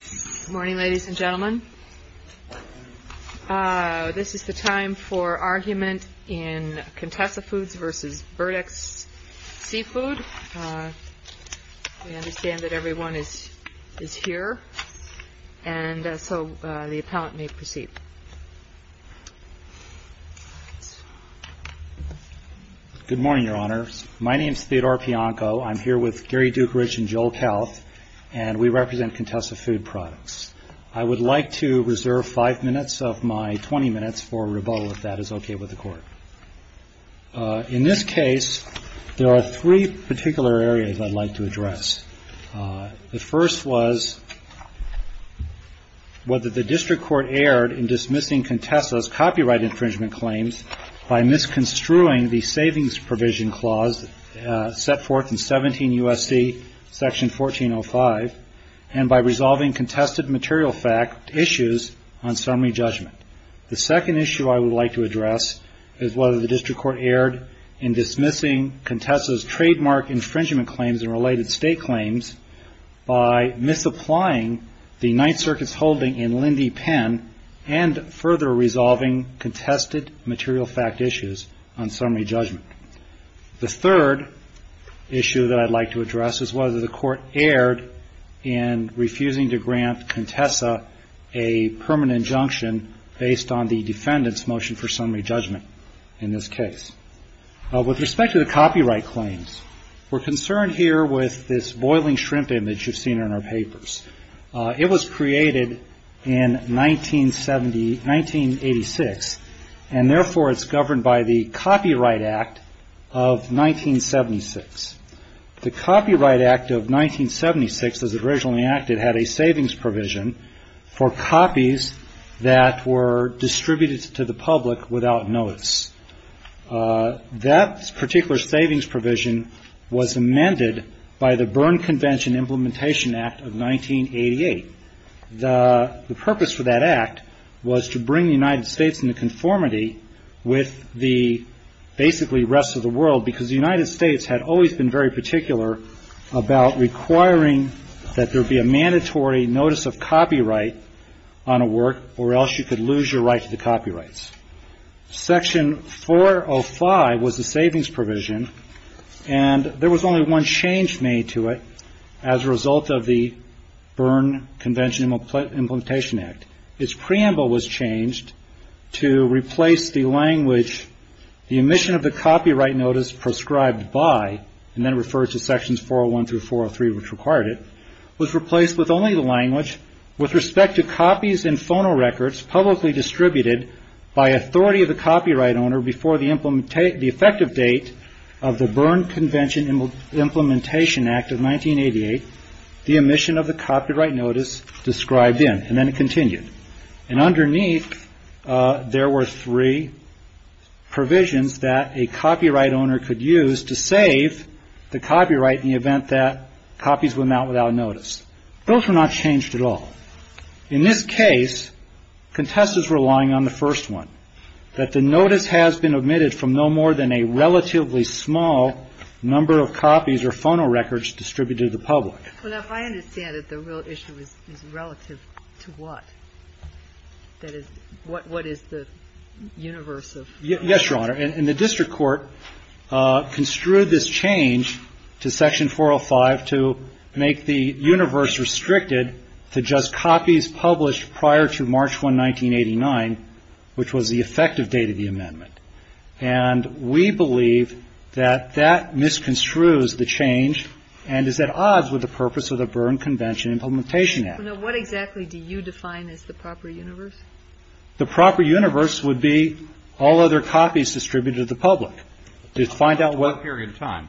Good morning, ladies and gentlemen. This is the time for argument in Contessa Foods v. Berdex Seafood. We understand that everyone is here, and so the appellant may proceed. Good morning, Your Honors. My name is Theodore Pianco. I'm here with Gary Dukarich and Joel I would like to reserve five minutes of my 20 minutes for rebuttal if that is okay with the Court. In this case, there are three particular areas I'd like to address. The first was whether the District Court erred in dismissing Contessa's copyright infringement claims by misconstruing the Savings Provision Clause set forth in 17 U.S.C. § 1405 and by resolving contested material fact issues on summary judgment. The second issue I would like to address is whether the District Court erred in dismissing Contessa's trademark infringement claims and related state claims by misapplying the Ninth Circuit's holding in Lindy Penn and further resolving contested material fact issues on summary judgment. The third issue I'd like to address is whether the Court erred in refusing to grant Contessa a permanent injunction based on the defendant's motion for summary judgment in this case. With respect to the copyright claims, we're concerned here with this boiling shrimp image you've seen in our papers. It was created in 1986, and therefore it's governed by the Copyright Act of 1976. The Copyright Act of 1976, as it originally acted, had a savings provision for copies that were distributed to the public without notice. That particular savings provision was amended by the Berne Convention Implementation Act of 1988. The rest of the world, because the United States had always been very particular about requiring that there be a mandatory notice of copyright on a work or else you could lose your right to the copyrights. Section 405 was the savings provision, and there was only one change made to it as a result of the Berne Convention Implementation Act. Its preamble was changed to replace the language, the omission of the copyright notice prescribed by, and then referred to sections 401 through 403 which required it, was replaced with only the language, with respect to copies and phonorecords publicly distributed by authority of the copyright owner before the effective date of the Berne Convention Implementation Act of 1988, the omission of the copyright notice described in, and then it continued. And underneath, there were three provisions that a copyright owner could use to save the copyright in the event that copies went out without notice. Those were not changed at all. In this case, contestants were relying on the first one, that the notice has been omitted from no more than a relatively small number of copies or phonorecords distributed to the public. Well, now, if I understand it, the real issue is relative to what? That is, what is the universe of? Yes, Your Honor. And the district court construed this change to Section 405 to make the universe restricted to just copies published prior to March 1, 1989, which was the effective date of the amendment. And we believe that that misconstrues the change and is at odds with the purpose of the Berne Convention Implementation Act. So, now, what exactly do you define as the proper universe? The proper universe would be all other copies distributed to the public. To find out what period of time?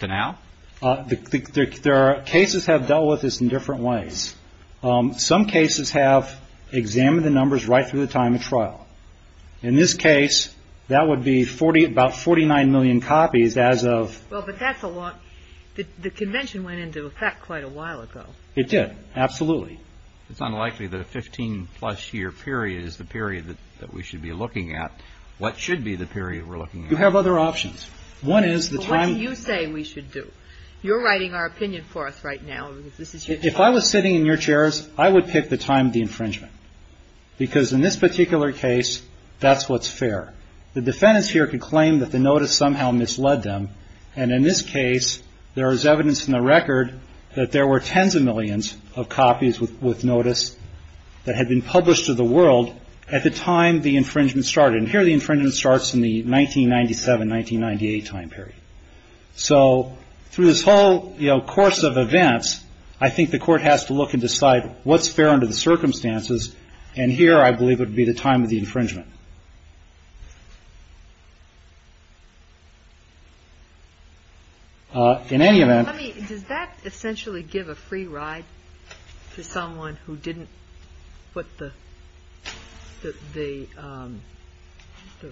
To now? There are cases have dealt with this in different ways. Some cases have examined the numbers right through the time of trial. In this case, that would be 40, about 49 million copies as of... Well, but that's a lot. The convention went into effect quite a while ago. It did. Absolutely. It's unlikely that a 15-plus year period is the period that we should be looking at. What should be the period we're looking at? You have other options. One is the time... What do you say we should do? You're writing our opinion for us right now. If I was sitting in your chairs, I would pick the time of the infringement. Because in this particular case, that's what's fair. The defendants here could claim that the in this case, there is evidence in the record that there were tens of millions of copies with notice that had been published to the world at the time the infringement started. And here the infringement starts in the 1997, 1998 time period. So through this whole course of events, I think the court has to look and decide what's fair under the circumstances. And here, I believe, would be the time of the infringement. In any event... Does that essentially give a free ride to someone who didn't put the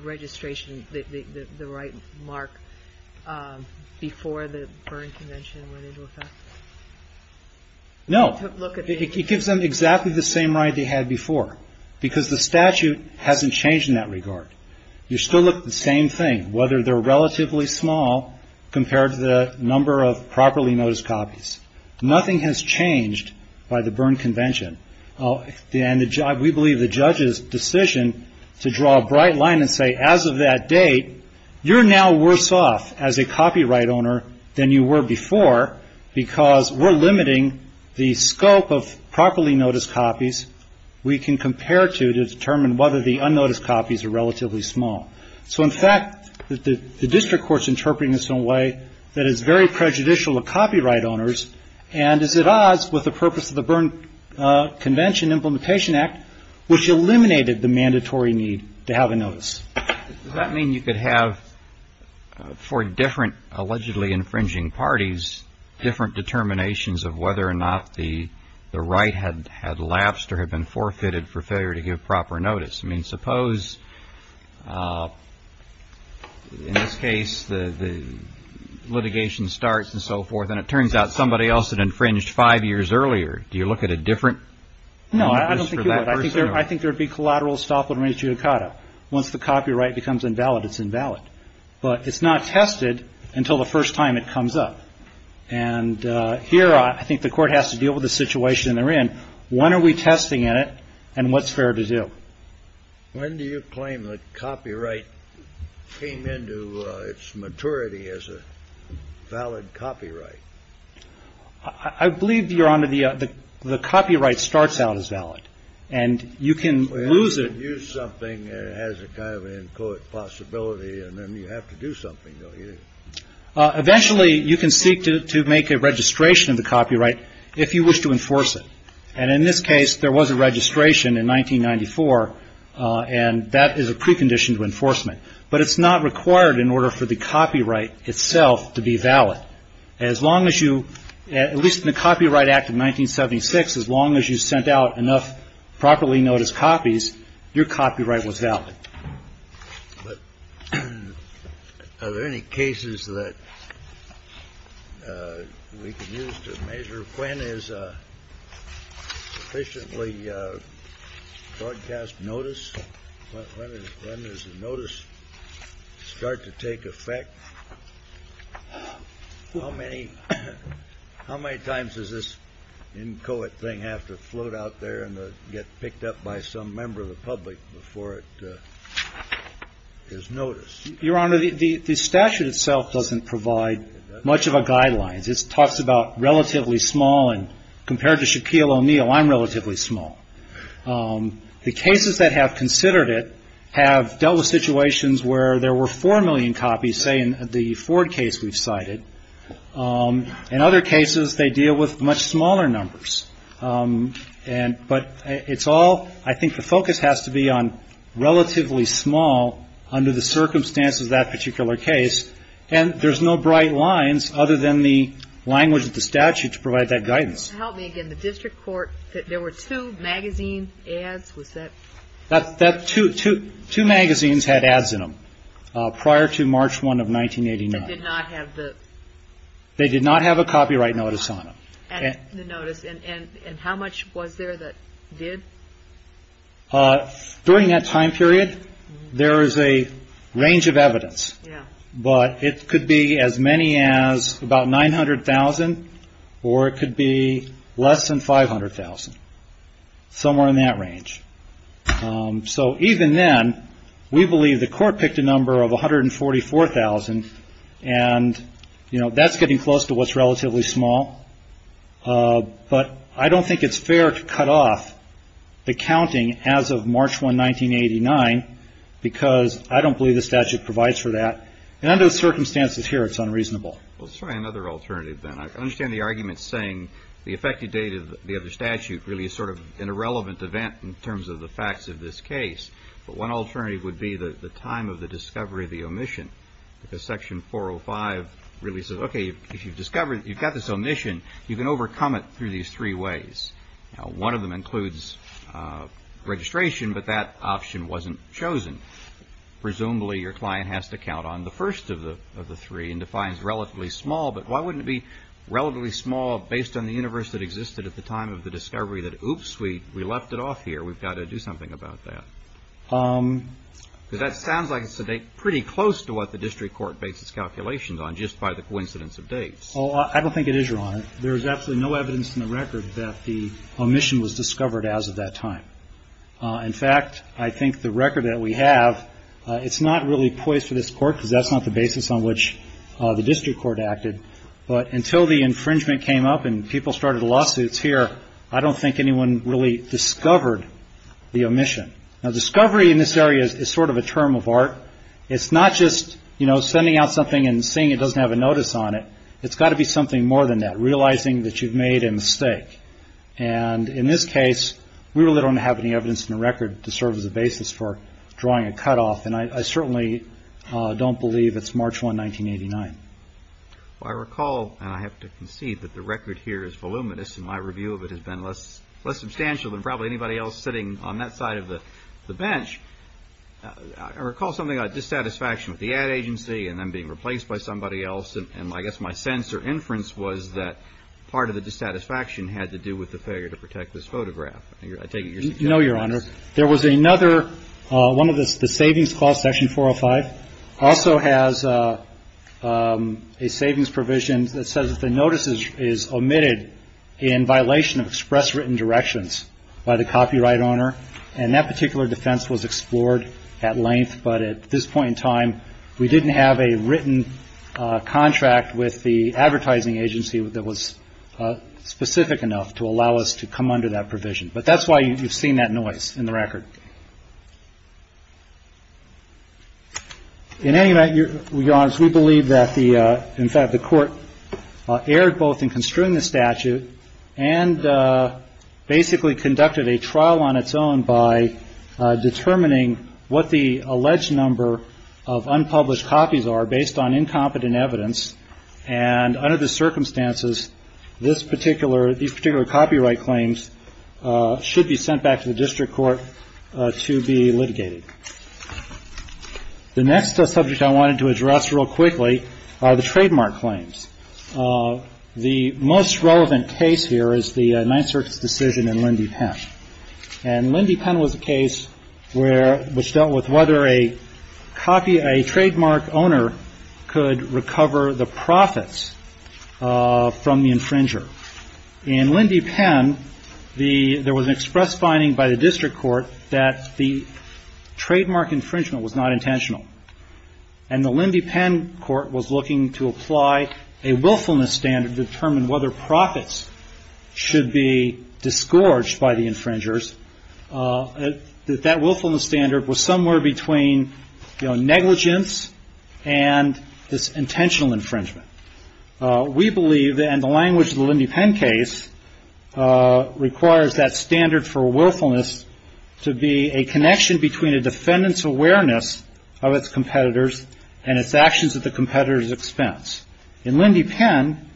registration, the right mark before the Berne Convention went into effect? No. It gives them exactly the same ride they had before because the statute hasn't changed in that regard. You still look at the same thing, whether they're relatively small compared to the number of properly noticed copies. Nothing has changed by the Berne Convention. We believe the judge's decision to draw a bright line and say, as of that date, you're now worse off as a copyright owner than you were before because we're limiting the scope of properly noticed copies we can compare to, to determine whether the unnoticed copies are relatively small. So in fact, the district court's interpreting this in a way that is very prejudicial to copyright owners and is at odds with the purpose of the Berne Convention Implementation Act, which eliminated the mandatory need to have a notice. Does that mean you could have, for different allegedly infringing parties, different determinations of whether or not the right had lapsed or had been forfeited for failure to give proper notice? I mean, suppose, in this case, the litigation starts and so forth, and it turns out somebody else had infringed five years earlier. Do you look at a different notice for that person? No, I don't think you would. I think there would be collateral estoppel and re-judicata. Once the copyright becomes invalid, it's invalid. But it's not tested until the first time it comes up. And here, I think the court has to deal with the situation they're in. When are we testing it, and what's fair to do? When do you claim that copyright came into its maturity as a valid copyright? I believe, Your Honor, the copyright starts out as valid. And you can lose it. Well, if you use something, it has a kind of an end quote possibility, and then you have to do something, don't you? Eventually, you can seek to make a registration of the copyright if you wish to enforce it. And in this case, there was a registration in 1994, and that is a precondition to enforcement. But it's not required in order for the copyright itself to be valid. As long as you – at least in the Copyright Act of 1976, as long as you sent out enough properly noticed copies, your copyright was valid. But are there any cases that we can use to measure when is a sufficiently broadcast notice? When does the notice start to take effect? How many times does this inchoate thing have to float out there and get picked up by some member of the public before it is noticed? Your Honor, the statute itself doesn't provide much of a guideline. It talks about relatively small, and compared to Shaquille O'Neal, I'm relatively small. The cases that have considered it have dealt with situations where there were 4 million copies, say, in the Ford case we've cited. In other cases, they deal with much smaller numbers. But it's all – I think the focus has to be on relatively small under the circumstances of that particular case. And there's no bright lines other than the language of the statute to provide that guidance. Help me again. The district court – there were two magazine ads? Was that – Two magazines had ads in them prior to March 1 of 1989. They did not have the – They did not have a copyright notice on them. The notice. And how much was there that did? During that time period, there is a range of evidence. But it could be as many as about 900,000, or it could be less than 500,000, somewhere in that range. So even then, we believe the court picked a number of 144,000. And, you know, that's getting close to what's relatively small. But I don't think it's fair to cut off the counting as of March 1, 1989, because I don't believe the statute provides for that. And under the circumstances here, it's unreasonable. Well, let's try another alternative, then. I understand the argument saying the effective date of the other statute really is sort of an irrelevant event in terms of the facts of this case. But one alternative would be the time of the discovery of the omission. Because Section 405 really says, okay, if you've discovered – you've got this omission, you can overcome it through these three ways. Now, one of them includes registration, but that option wasn't chosen. Presumably, your client has to count on the first of the three and defines relatively small. But why wouldn't it be relatively small based on the universe that existed at the time of the discovery that, oops, we left it off here, we've got to do something about that? Because that sounds like it's a date pretty close to what the district court makes its calculations on, just by the coincidence of dates. Oh, I don't think it is, Your Honor. There is absolutely no evidence in the record that the omission was discovered as of that time. In fact, I think the record that we have, it's not really poised for this court because that's not the basis on which the district court acted. But until the infringement came up and people started lawsuits here, I don't think anyone really discovered the omission. Now, discovery in this area is sort of a term of art. It's not just, you know, sending out something and seeing it doesn't have a notice on it. It's got to be something more than that, realizing that you've made a mistake. And in this case, we really don't have any evidence in the record to serve as a basis for drawing a cutoff. And I certainly don't believe it's March 1, 1989. I recall, and I have to concede that the record here is voluminous and my review of it has been less substantial than probably anybody else sitting on that side of the bench. I recall something like dissatisfaction with the ad agency and them being replaced by somebody else. And I guess my sense or inference was that part of the dissatisfaction had to do with the failure to protect this photograph. I take it you're saying. No, Your Honor. There was another, one of the savings clause, section 405, also has a savings provision that says that the notice is omitted in violation of express written directions by the copyright owner. And that particular defense was explored at length. But at this point in time, we didn't have a written contract with the advertising agency that was specific enough to allow us to come under that provision. But that's why you've seen that noise in the record. In any event, Your Honor, we believe that the in fact the court erred both in construing the statute and basically conducted a trial on its own by determining what the alleged number of unpublished copies are based on incompetent evidence. And under the circumstances, this particular these particular copyright claims should be sent back to the district court to be litigated. The next subject I wanted to address real quickly are the trademark claims. The most relevant case here is the Ninth Circuit's decision in Lindy Penn. And Lindy Penn was a case where, which dealt with whether a copy, a trademark owner could recover the profits from the infringer. In Lindy Penn, the, there was an express finding by the district court that the trademark infringement was not intentional. And the Lindy Penn court was looking to apply a willfulness standard to determine whether profits should be disgorged by the infringers. That that willfulness standard was somewhere between negligence and this intentional infringement. We believe, and the language of the Lindy Penn case requires that standard for willfulness to be a connection between a defendant's awareness of its competitors and its actions at the competitor's expense. In Lindy Penn,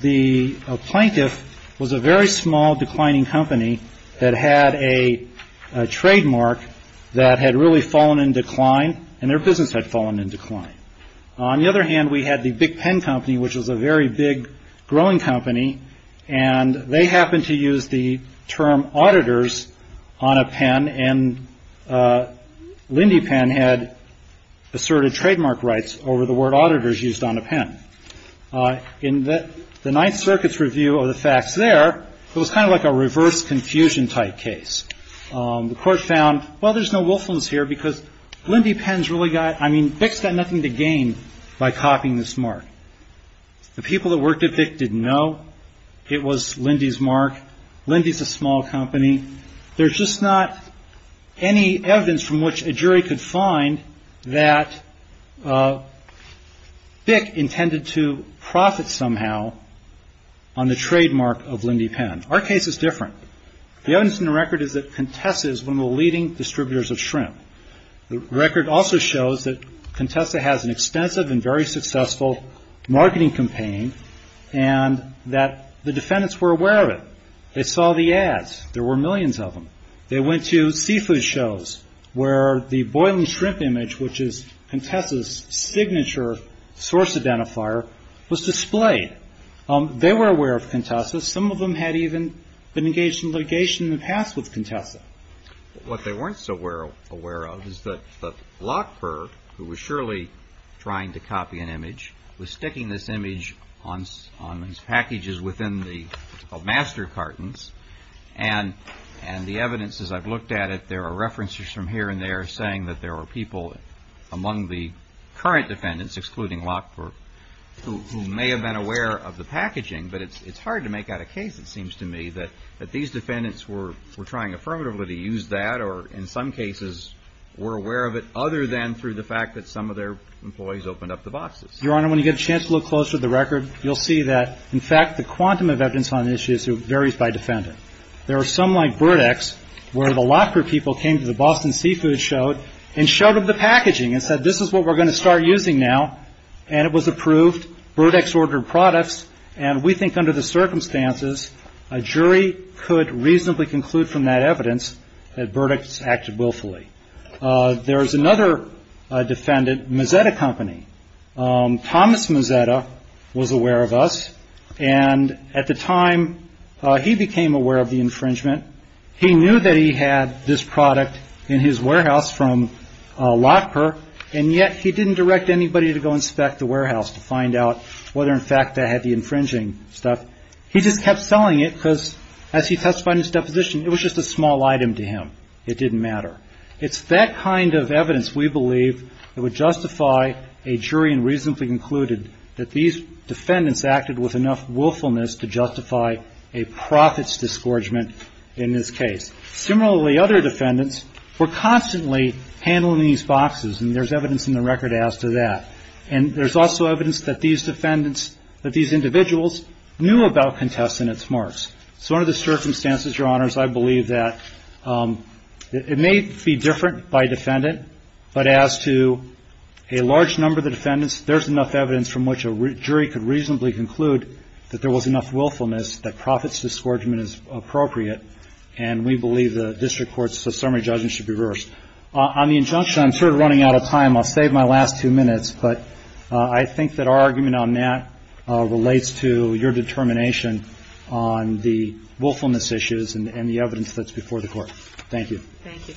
the plaintiff was a very small declining company that had a trademark that had really fallen in decline and their business had fallen in decline. On the other hand, we had the Big Pen Company, which was a very big growing company, and they happened to use the term auditors on a pen and Lindy Penn had asserted trademark rights over the word auditors used on a pen. In the Ninth Circuit's review of the facts there, it was kind of like a reverse confusion type case. The court found, well, there's no willfulness here because Lindy Penn's really got, I mean, BIC's got nothing to gain by copying this mark. The people that worked at BIC didn't know it was Lindy's mark. Lindy's a small company. There's just not any evidence from which a jury could find that BIC intended to profit somehow on the trademark of Lindy Penn. Our case is different. The evidence in the record is that Contessa is one of the leading distributors of shrimp. The record also shows that Contessa has an extensive and very successful marketing campaign and that the defendants were aware of it. They saw the ads. There were millions of them. They went to seafood shows where the boiling shrimp image, which is Contessa's signature source identifier, was displayed. They were aware of Contessa. Some of them had even been engaged in litigation in the past with Contessa. What they weren't so aware of is that Lockberg, who was surely trying to copy an image, was sticking this image on packages within the master cartons, and the evidence, as I've looked at it, there are references from here and there saying that there were people among the current defendants, excluding Lockberg, who may have been aware of the packaging. But it's hard to make out a case, it seems to me, that these defendants were trying affirmatively to use that or, in some cases, were aware of it other than through the fact that some of their employees opened up the boxes. Your Honor, when you get a chance to look closer at the record, you'll see that, in fact, the quantum of evidence on the issue varies by defendant. There are some, like Burdick's, where the Lockberg people came to the Boston Seafood Show and showed them the packaging and said, this is what we're going to start using now. And it was approved. Burdick's ordered products. And we think, under the circumstances, a jury could reasonably conclude from that evidence that Burdick's acted willfully. There is another defendant, Mazzetta Company. Thomas Mazzetta was aware of us. And at the time, he became aware of the infringement. He knew that he had this product in his warehouse from Lockberg. And yet he didn't direct anybody to go inspect the warehouse to find out whether, in fact, they had the infringing stuff. He just kept selling it because, as he testified in his deposition, it was just a small item to him. It didn't matter. It's that kind of evidence, we believe, that would justify a jury and reasonably concluded that these defendants acted with enough willfulness to justify a profit's disgorgement in this case. Similarly, other defendants were constantly handling these boxes. And there's evidence in the record as to that. And there's also evidence that these defendants, that these individuals, knew about contests and its marks. So under the circumstances, Your Honors, I believe that it may be different by defendant, but as to a large number of the defendants, there's enough evidence from which a jury could reasonably conclude that there was enough willfulness, that profit's disgorgement is appropriate. And we believe the district court's summary judgment should be reversed. On the injunction, I'm sort of running out of time. I'll save my last two minutes. But I think that our argument on that relates to your determination on the willfulness issues and the evidence that's before the Court. Thank you. Thank you.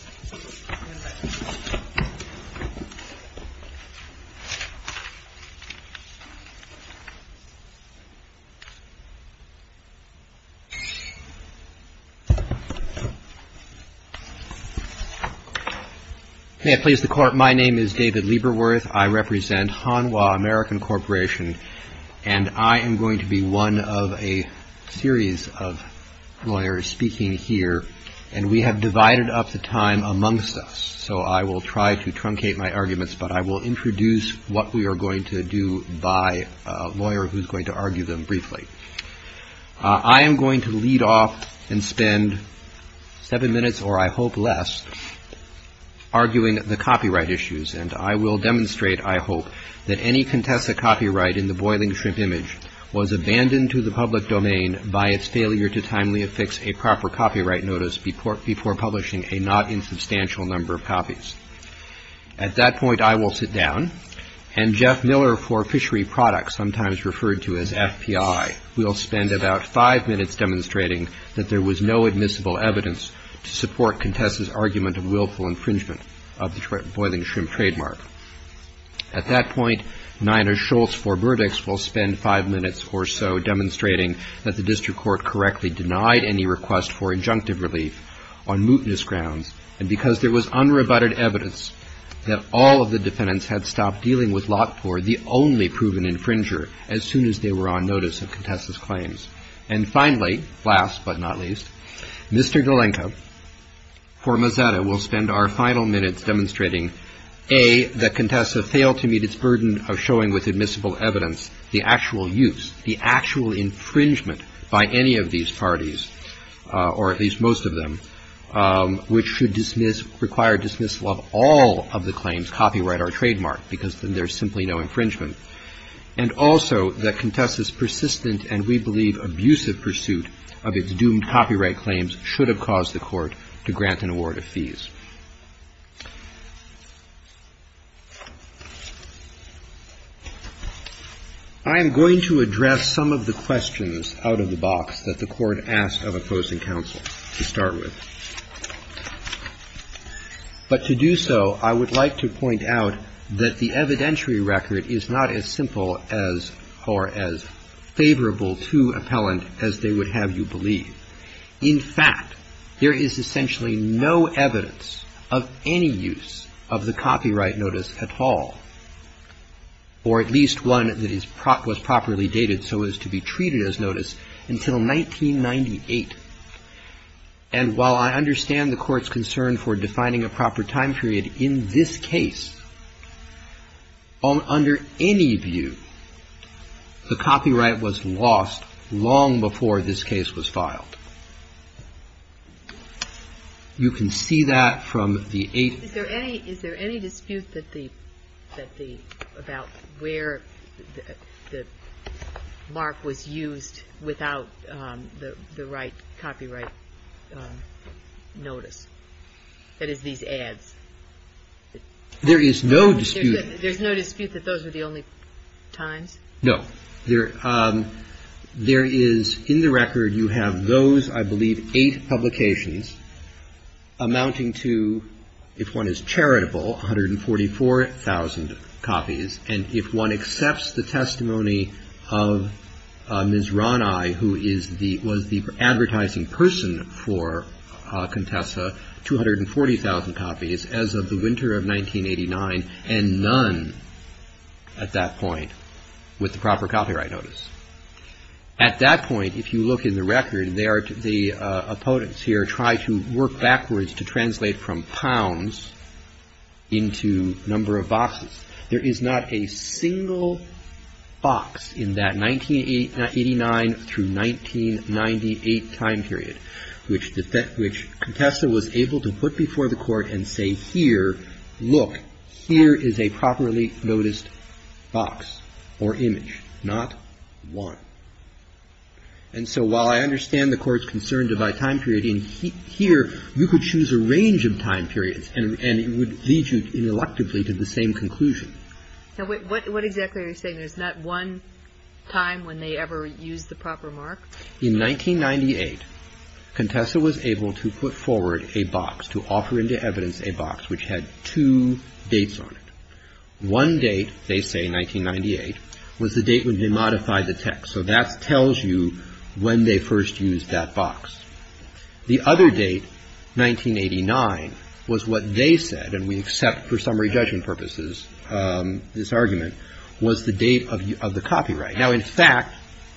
May it please the Court, my name is David Lieberworth. I represent Hanwha American Corporation. And I am going to be one of a series of lawyers speaking here. And we have divided up the time amongst us. So I will try to truncate my arguments, but I will introduce what we are going to do by a lawyer who's going to argue them briefly. I am going to lead off and spend seven minutes, or I hope less, arguing the copyright issues. And I will demonstrate, I hope, that any Contessa copyright in the Boiling Shrimp image was abandoned to the public domain by its failure to timely affix a proper copyright notice before publishing a not insubstantial number of copies. At that point, I will sit down. And Jeff Miller for Fishery Products, sometimes referred to as FPI, will spend about five minutes demonstrating that there was no admissible evidence to support Contessa's argument of willful infringement of the Boiling Shrimp trademark. At that point, Nina Schultz for Burdick's will spend five minutes or so demonstrating that the district court correctly denied any request for injunctive relief on mootness grounds, and because there was unrebutted evidence that all of the defendants had stopped dealing with Lockport, the only proven infringer, as soon as they were on notice of Contessa's claims. And finally, last but not least, Mr. Galenka for Mazzetta will spend our final minutes demonstrating A, that Contessa failed to meet its burden of showing with admissible evidence the actual use, the actual infringement by any of these parties, or at least most of them, which should require dismissal of all of the claims copyright or trademark, because then there's simply no infringement. And also that Contessa's persistent and, we believe, abusive pursuit of its doomed copyright claims should have caused the court to grant an award of fees. I am going to address some of the questions out of the box that the court asked of opposing counsel to start with. But to do so, I would like to point out that the evidentiary record is not as simple as, or as favorable to, appellant as they would have you believe. In fact, there is essentially no evidence of any use of the copyright notice at all, or at least one that was properly dated so as to be treated as notice until 1998. And while I understand the court's concern for defining a proper time period in this case, under any view, the copyright was lost long before this case was filed. You can see that from the eight. Is there any dispute about where the mark was used without the right copyright notice? That is, these ads. There is no dispute. There's no dispute that those are the only times? No. There is, in the record, you have those, I believe, eight publications, amounting to, if one is charitable, 144,000 copies. And if one accepts the testimony of Ms. Ronai, who was the advertising person for Contessa, 240,000 copies as of the winter of 1989, and none at that point with the proper copyright notice. At that point, if you look in the record, the opponents here try to work backwards to translate from pounds into number of boxes. There is not a single box in that 1989 through 1998 time period which Contessa was able to put before the court and say, here, look, here is a properly noticed box or image, not one. And so while I understand the court's concern to divide time period in here, you could choose a range of time periods and it would lead you, ineluctably, to the same conclusion. What exactly are you saying? There's not one time when they ever used the proper mark? In 1998, Contessa was able to put forward a box, to offer into evidence a box, which had two dates on it. One date, they say, 1998, was the date when they modified the text. So that tells you when they first used that box. The other date, 1989, was what they said, and we accept for summary judgment purposes this argument, was the date of the copyright. Now, in fact,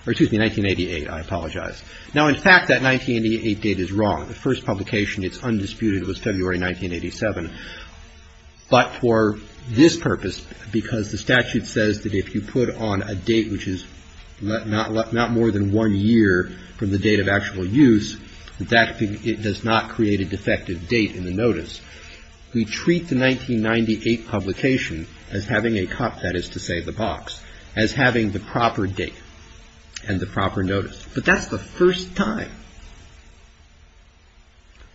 excuse me, 1988, I apologize. Now, in fact, that 1988 date is wrong. The first publication, it's undisputed, was February 1987. But for this purpose, because the statute says that if you put on a date which is not more than one year from the date of actual use, that does not create a defective date in the notice. We treat the 1998 publication as having a cup, that is to say, the box, as having the proper date and the proper notice. But that's the first time.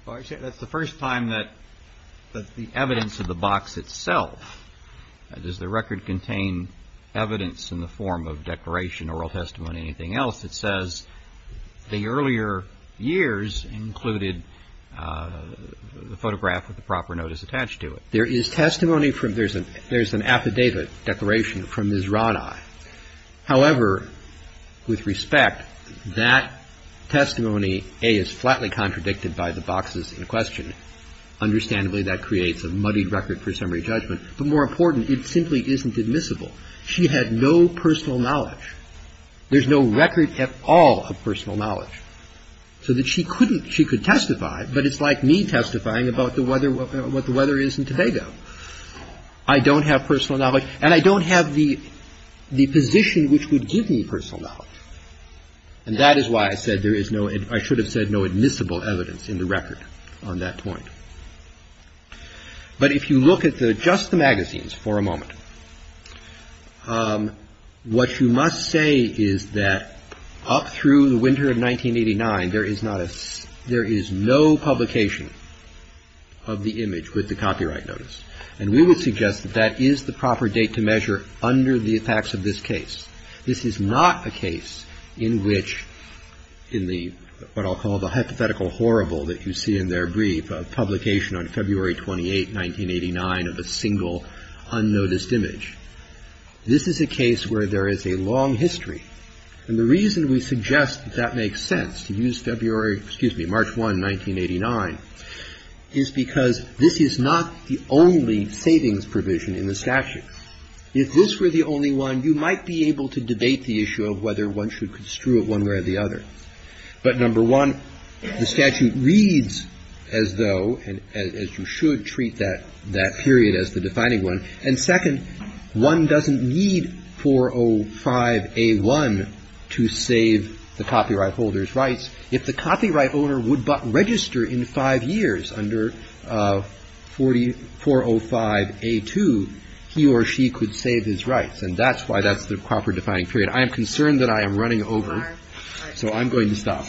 Well, that's the first time that the evidence of the box itself, does the record contain evidence in the form of declaration, oral testimony, anything else, that says the earlier years included the photograph with the proper notice attached to it. There is testimony from, there's an affidavit declaration from Ms. Roddye. However, with respect, that testimony, A, is flatly contradicted by the boxes in question. Understandably, that creates a muddied record for summary judgment. But more important, it simply isn't admissible. She had no personal knowledge. There's no record at all of personal knowledge. So that she couldn't, she could testify, but it's like me testifying about the weather, what the weather is in Tobago. I don't have personal knowledge, and I don't have the position which would give me personal knowledge. And that is why I said there is no, I should have said no admissible evidence in the record on that point. But if you look at just the magazines for a moment, what you must say is that up through the winter of 1989, there is not a, there is no publication of the image with the copyright notice. And we would suggest that that is the proper date to measure under the effects of this case. This is not a case in which, in the, what I'll call the hypothetical horrible that you see in their brief, publication on February 28, 1989 of a single unnoticed image. This is a case where there is a long history. And the reason we suggest that that makes sense, to use February, excuse me, March 1, 1989, is because this is not the only savings provision in the statute. If this were the only one, you might be able to debate the issue of whether one should construe it one way or the other. But number one, the statute reads as though, as you should treat that period as the defining one. And second, one doesn't need 405A1 to save the copyright holder's rights. If the copyright holder would register in five years under 405A2, he or she could save his rights. And that's why that's the proper defining period. And I am concerned that I am running over, so I'm going to stop.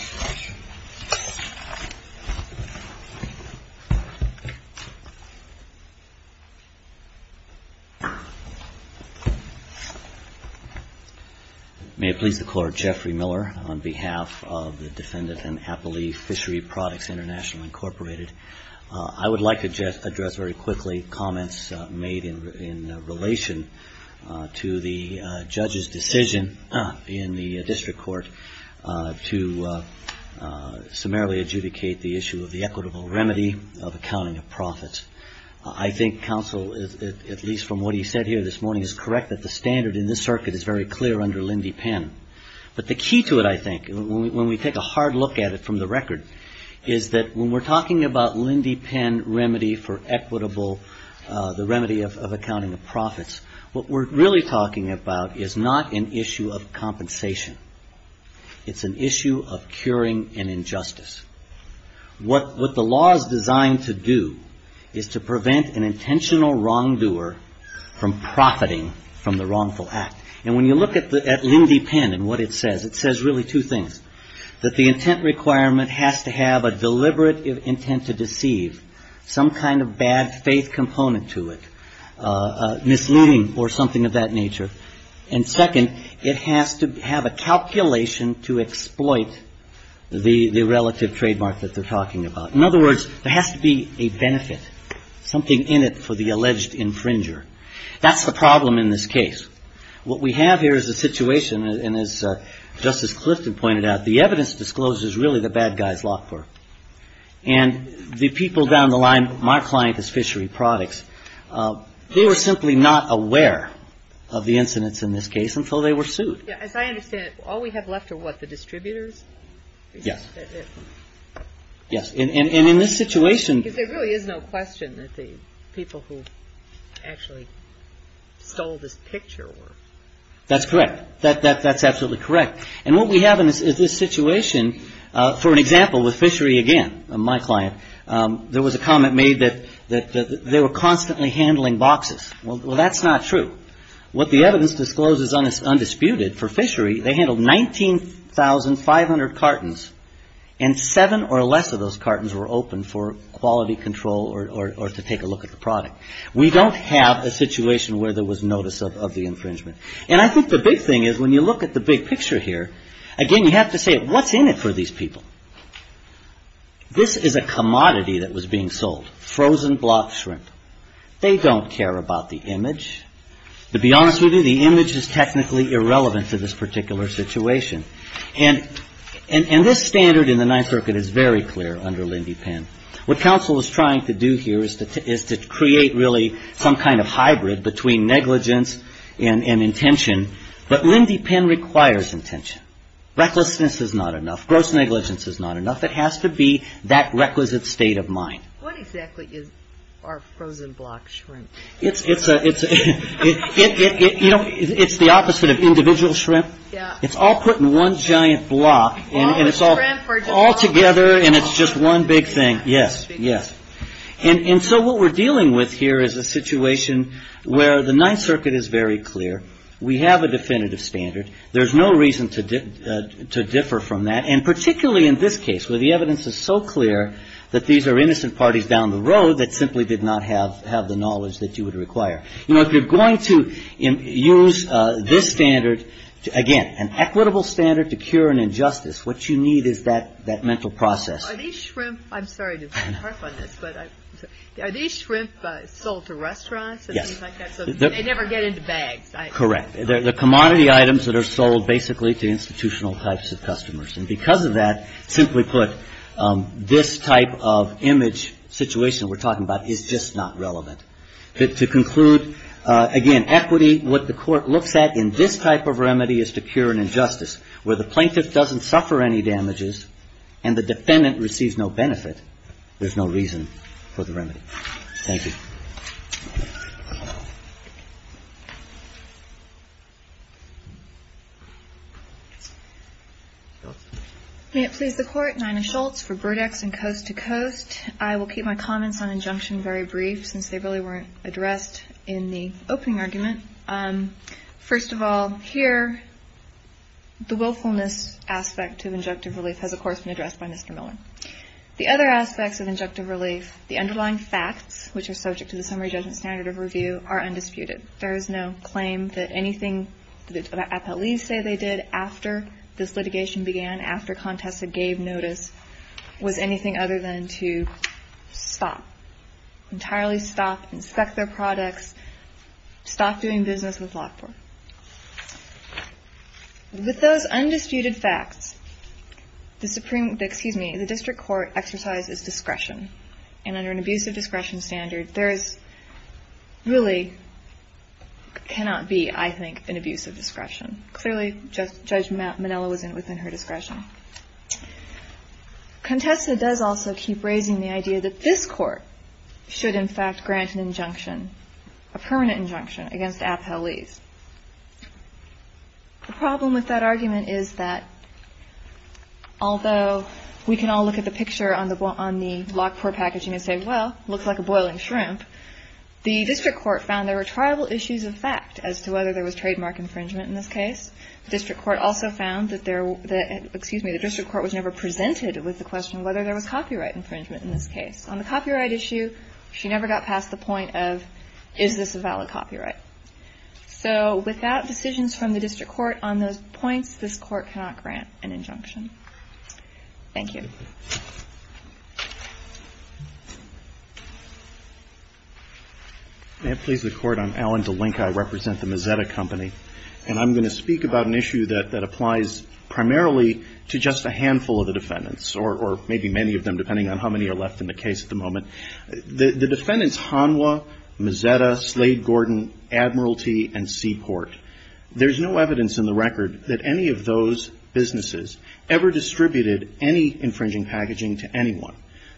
May it please the Court. Jeffrey Miller on behalf of the Defendant and Appellee Fishery Products International Incorporated. I would like to address very quickly comments made in relation to the judge's decision in the district court to summarily adjudicate the issue of the equitable remedy of accounting of profits. I think counsel, at least from what he said here this morning, is correct that the standard in this circuit is very clear under Lindy Penn. But the key to it, I think, when we take a hard look at it from the record, is that when we're talking about Lindy Penn remedy for equitable, the remedy of accounting of profits, what we're really talking about is not an issue of compensation. It's an issue of curing an injustice. What the law is designed to do is to prevent an intentional wrongdoer from profiting from the wrongful act. And when you look at Lindy Penn and what it says, it says really two things. That the intent requirement has to have a deliberate intent to deceive, some kind of bad faith component to it, misleading or something of that nature. And second, it has to have a calculation to exploit the relative trademark that they're talking about. In other words, there has to be a benefit, something in it for the alleged infringer. That's the problem in this case. What we have here is a situation, and as Justice Clifton pointed out, the evidence disclosed is really the bad guy's law firm. And the people down the line, my client is fishery products, they were simply not aware of the incidents in this case until they were sued. As I understand it, all we have left are what, the distributors? Yes. Yes. And in this situation. Because there really is no question that the people who actually stole this picture were. That's correct. That's absolutely correct. And what we have in this situation, for an example, with fishery again, my client, there was a comment made that they were constantly handling boxes. Well, that's not true. What the evidence discloses is undisputed. For fishery, they handled 19,500 cartons, and seven or less of those cartons were open for quality control or to take a look at the product. We don't have a situation where there was notice of the infringement. And I think the big thing is, when you look at the big picture here, again, you have to say, what's in it for these people? This is a commodity that was being sold. Frozen block shrimp. They don't care about the image. To be honest with you, the image is technically irrelevant to this particular situation. And this standard in the Ninth Circuit is very clear under Lindy Penn. What counsel is trying to do here is to create really some kind of hybrid between negligence and intention. But Lindy Penn requires intention. Recklessness is not enough. Gross negligence is not enough. It has to be that requisite state of mind. What exactly is our frozen block shrimp? It's the opposite of individual shrimp. It's all put in one giant block, and it's all together, and it's just one big thing. Yes, yes. And so what we're dealing with here is a situation where the Ninth Circuit is very clear. We have a definitive standard. There's no reason to differ from that. And particularly in this case where the evidence is so clear that these are innocent parties down the road that simply did not have the knowledge that you would require. You know, if you're going to use this standard, again, an equitable standard to cure an injustice, what you need is that mental process. Are these shrimp sold to restaurants and things like that? Yes. They never get into bags. Correct. The commodity items that are sold basically to institutional types of customers. And because of that, simply put, this type of image situation we're talking about is just not relevant. To conclude, again, equity, what the Court looks at in this type of remedy is to cure an injustice. Where the plaintiff doesn't suffer any damages and the defendant receives no benefit, there's no reason for the remedy. Thank you. May it please the Court. Nina Schultz for Burdex and Coast to Coast. I will keep my comments on injunction very brief since they really weren't addressed in the opening argument. First of all, here, the willfulness aspect of injunctive relief has, of course, been addressed by Mr. Miller. The other aspects of injunctive relief, the underlying facts, which are subject to the summary judgment standard of review, are undisputed. There is no claim that anything the appellees say they did after this litigation began, after Contessa gave notice, was anything other than to stop, entirely stop, inspect their products, stop doing business with Lockport. With those undisputed facts, the Supreme, excuse me, the District Court exercises discretion. And under an abuse of discretion standard, there is really, cannot be, I think, an abuse of discretion. Clearly, Judge Manella was within her discretion. Contessa does also keep raising the idea that this Court should, in fact, grant an injunction, a permanent injunction, against appellees. The problem with that argument is that although we can all look at the picture on the Lockport packaging and say, well, it looks like a boiling shrimp, the District Court found there were tribal issues of fact as to whether there was trademark infringement in this case. The District Court also found that there, excuse me, the District Court was never presented with the question whether there was copyright infringement in this case. On the copyright issue, she never got past the point of, is this a valid copyright? So without decisions from the District Court on those points, this Court cannot grant an injunction. Thank you. May it please the Court, I'm Alan DeLinke. I represent the Mazzetta Company. And I'm going to speak about an issue that applies primarily to just a handful of the defendants, or maybe many of them, depending on how many are left in the case at the moment. The defendants, Hanwha, Mazzetta, Slade-Gordon, Admiralty, and Seaport, there's no evidence in the record that any of those businesses ever distributed any infringing packaging to anyone.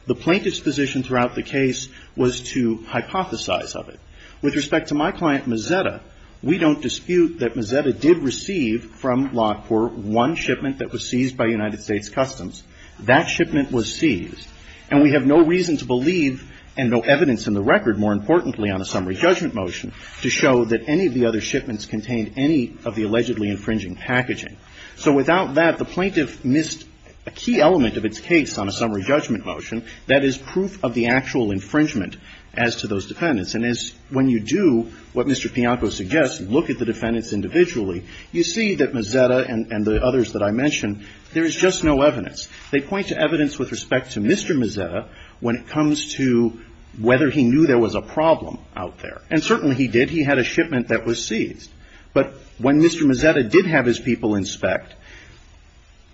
The plaintiff's position throughout the case was to hypothesize of it. With respect to my client, Mazzetta, we don't dispute that Mazzetta did receive from Lockport one shipment that was seized by United States Customs. That shipment was seized. And we have no reason to believe, and no evidence in the record, more importantly, on a summary judgment motion to show that any of the other shipments contained any of the allegedly infringing packaging. So without that, the plaintiff missed a key element of its case on a summary judgment motion, that is, proof of the actual infringement as to those defendants. And as when you do what Mr. Pianco suggests, look at the defendants individually, you see that Mazzetta and the others that I mentioned, there is just no evidence. They point to evidence with respect to Mr. Mazzetta when it comes to whether he knew there was a problem out there. And certainly he did. He had a shipment that was seized. But when Mr. Mazzetta did have his people inspect,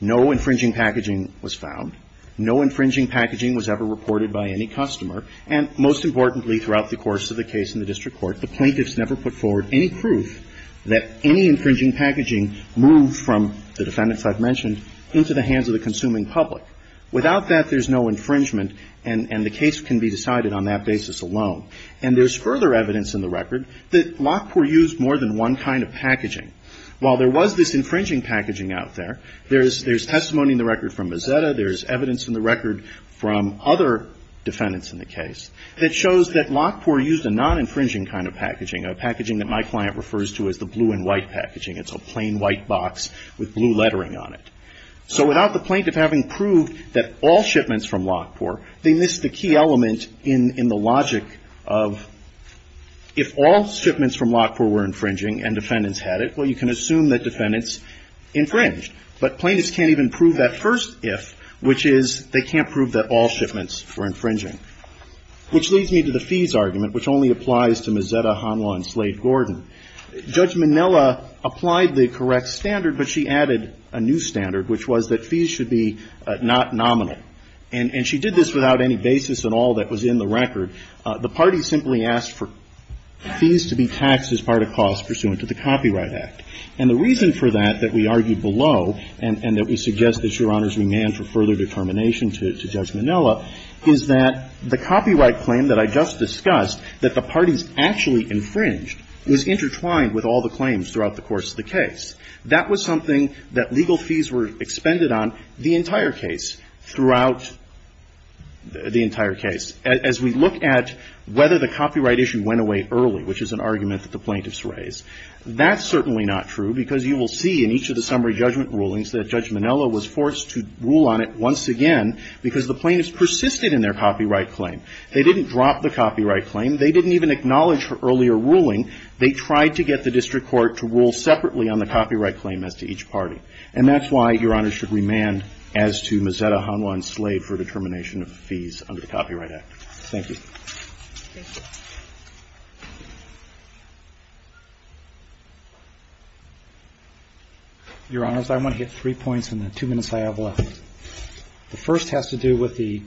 no infringing packaging was found. No infringing packaging was ever reported by any customer. And most importantly throughout the course of the case in the district court, the plaintiffs never put forward any proof that any infringing packaging moved from the defendants I've mentioned into the hands of the consuming public. Without that, there's no infringement, and the case can be decided on that basis alone. And there's further evidence in the record that Lockport used more than one kind of packaging. While there was this infringing packaging out there, there's testimony in the record from Mazzetta. There's evidence in the record from other defendants in the case that shows that Lockport used a non-infringing kind of packaging, a packaging that my client refers to as the blue and white packaging. It's a plain white box with blue lettering on it. So without the plaintiff having proved that all shipments from Lockport, they missed the key element in the logic of if all shipments from Lockport were infringing and defendants had it, well, you can assume that defendants infringed. But plaintiffs can't even prove that first if, which is they can't prove that all shipments were infringing, which leads me to the fees argument, which only applies to Mazzetta, Honlaw, and Slade-Gordon. Judge Minella applied the correct standard, but she added a new standard, which was that fees should be not nominal. And she did this without any basis at all that was in the record. The party simply asked for fees to be taxed as part of costs pursuant to the Copyright Act. And the reason for that that we argue below, and that we suggest that, Your Honors, we may add for further determination to Judge Minella, is that the copyright claim that I just discussed, that the parties actually infringed, was intertwined with all the claims throughout the course of the case. That was something that legal fees were expended on the entire case throughout the entire case. As we look at whether the copyright issue went away early, which is an argument that the plaintiffs raised, that's certainly not true, because you will see in each of the summary judgment rulings that Judge Minella was forced to rule on it once again because the plaintiffs persisted in their copyright claim. They didn't drop the copyright claim. They didn't even acknowledge her earlier ruling. They tried to get the district court to rule separately on the copyright claim as to each party. And that's why Your Honors should remand as to Mazzetta, Honlaw, and Slade for determination of fees under the Copyright Act. Thank you. Thank you. Your Honors, I want to hit three points in the two minutes I have left. The first has to do with the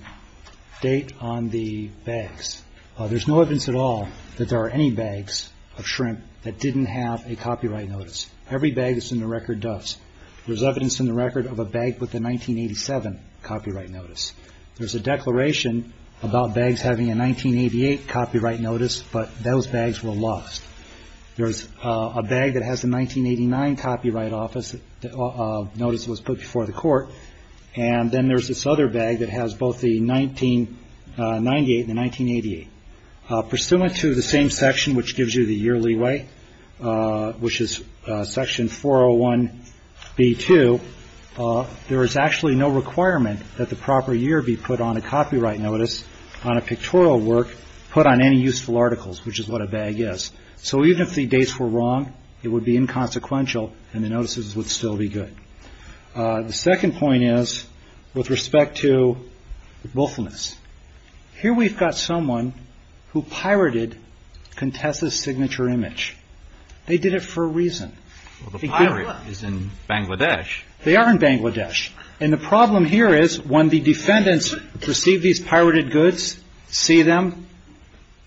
date on the bags. There's no evidence at all that there are any bags of shrimp that didn't have a copyright notice. Every bag that's in the record does. There's evidence in the record of a bag with a 1987 copyright notice. There's a declaration about bags having a 1988 copyright notice, but those bags were lost. There's a bag that has a 1989 copyright notice that was put before the court, and then there's this other bag that has both the 1998 and the 1988. Pursuant to the same section which gives you the year leeway, which is Section 401B2, there is actually no requirement that the proper year be put on a copyright notice on a pictorial work put on any useful articles, which is what a bag is. So even if the dates were wrong, it would be inconsequential and the notices would still be good. The second point is with respect to willfulness. Here we've got someone who pirated Contessa's signature image. They did it for a reason. Well, the pirate is in Bangladesh. They are in Bangladesh. And the problem here is when the defendants receive these pirated goods, see them,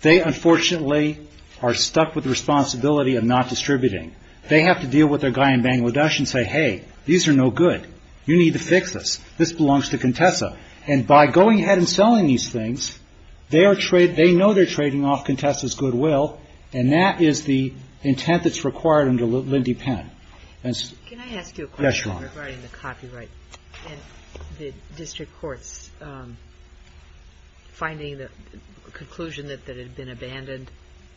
they unfortunately are stuck with the responsibility of not distributing. They have to deal with their guy in Bangladesh and say, hey, these are no good. You need to fix this. This belongs to Contessa. And by going ahead and selling these things, they know they're trading off Contessa's goodwill, and that is the intent that's required under Lindy Penn. And so ‑‑ Can I ask you a question? Yes, Your Honor. Regarding the copyright and the district courts finding the conclusion that it had been abandoned.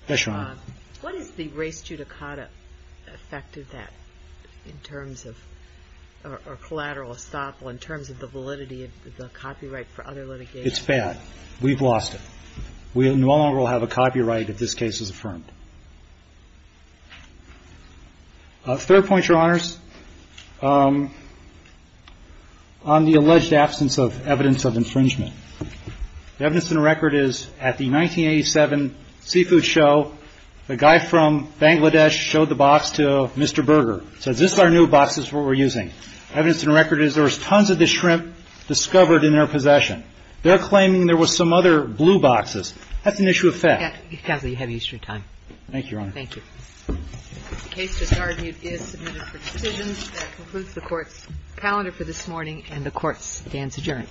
Yes, Your Honor. What is the race judicata effect of that in terms of ‑‑ or collateral estoppel in terms of the validity of the copyright for other litigation? It's bad. We've lost it. We no longer will have a copyright if this case is affirmed. Third point, Your Honors. On the alleged absence of evidence of infringement. The evidence in the record is at the 1987 seafood show, the guy from Bangladesh showed the box to Mr. Berger. He said, this is our new box. This is what we're using. Evidence in the record is there was tons of the shrimp discovered in their possession. They're claiming there was some other blue boxes. That's an issue of fact. Counsel, you have Easter time. Thank you, Your Honor. Thank you. The case, as argued, is submitted for decisions. That concludes the Court's calendar for this morning, and the Court stands adjourned. All rise. We hope that this has been helpful.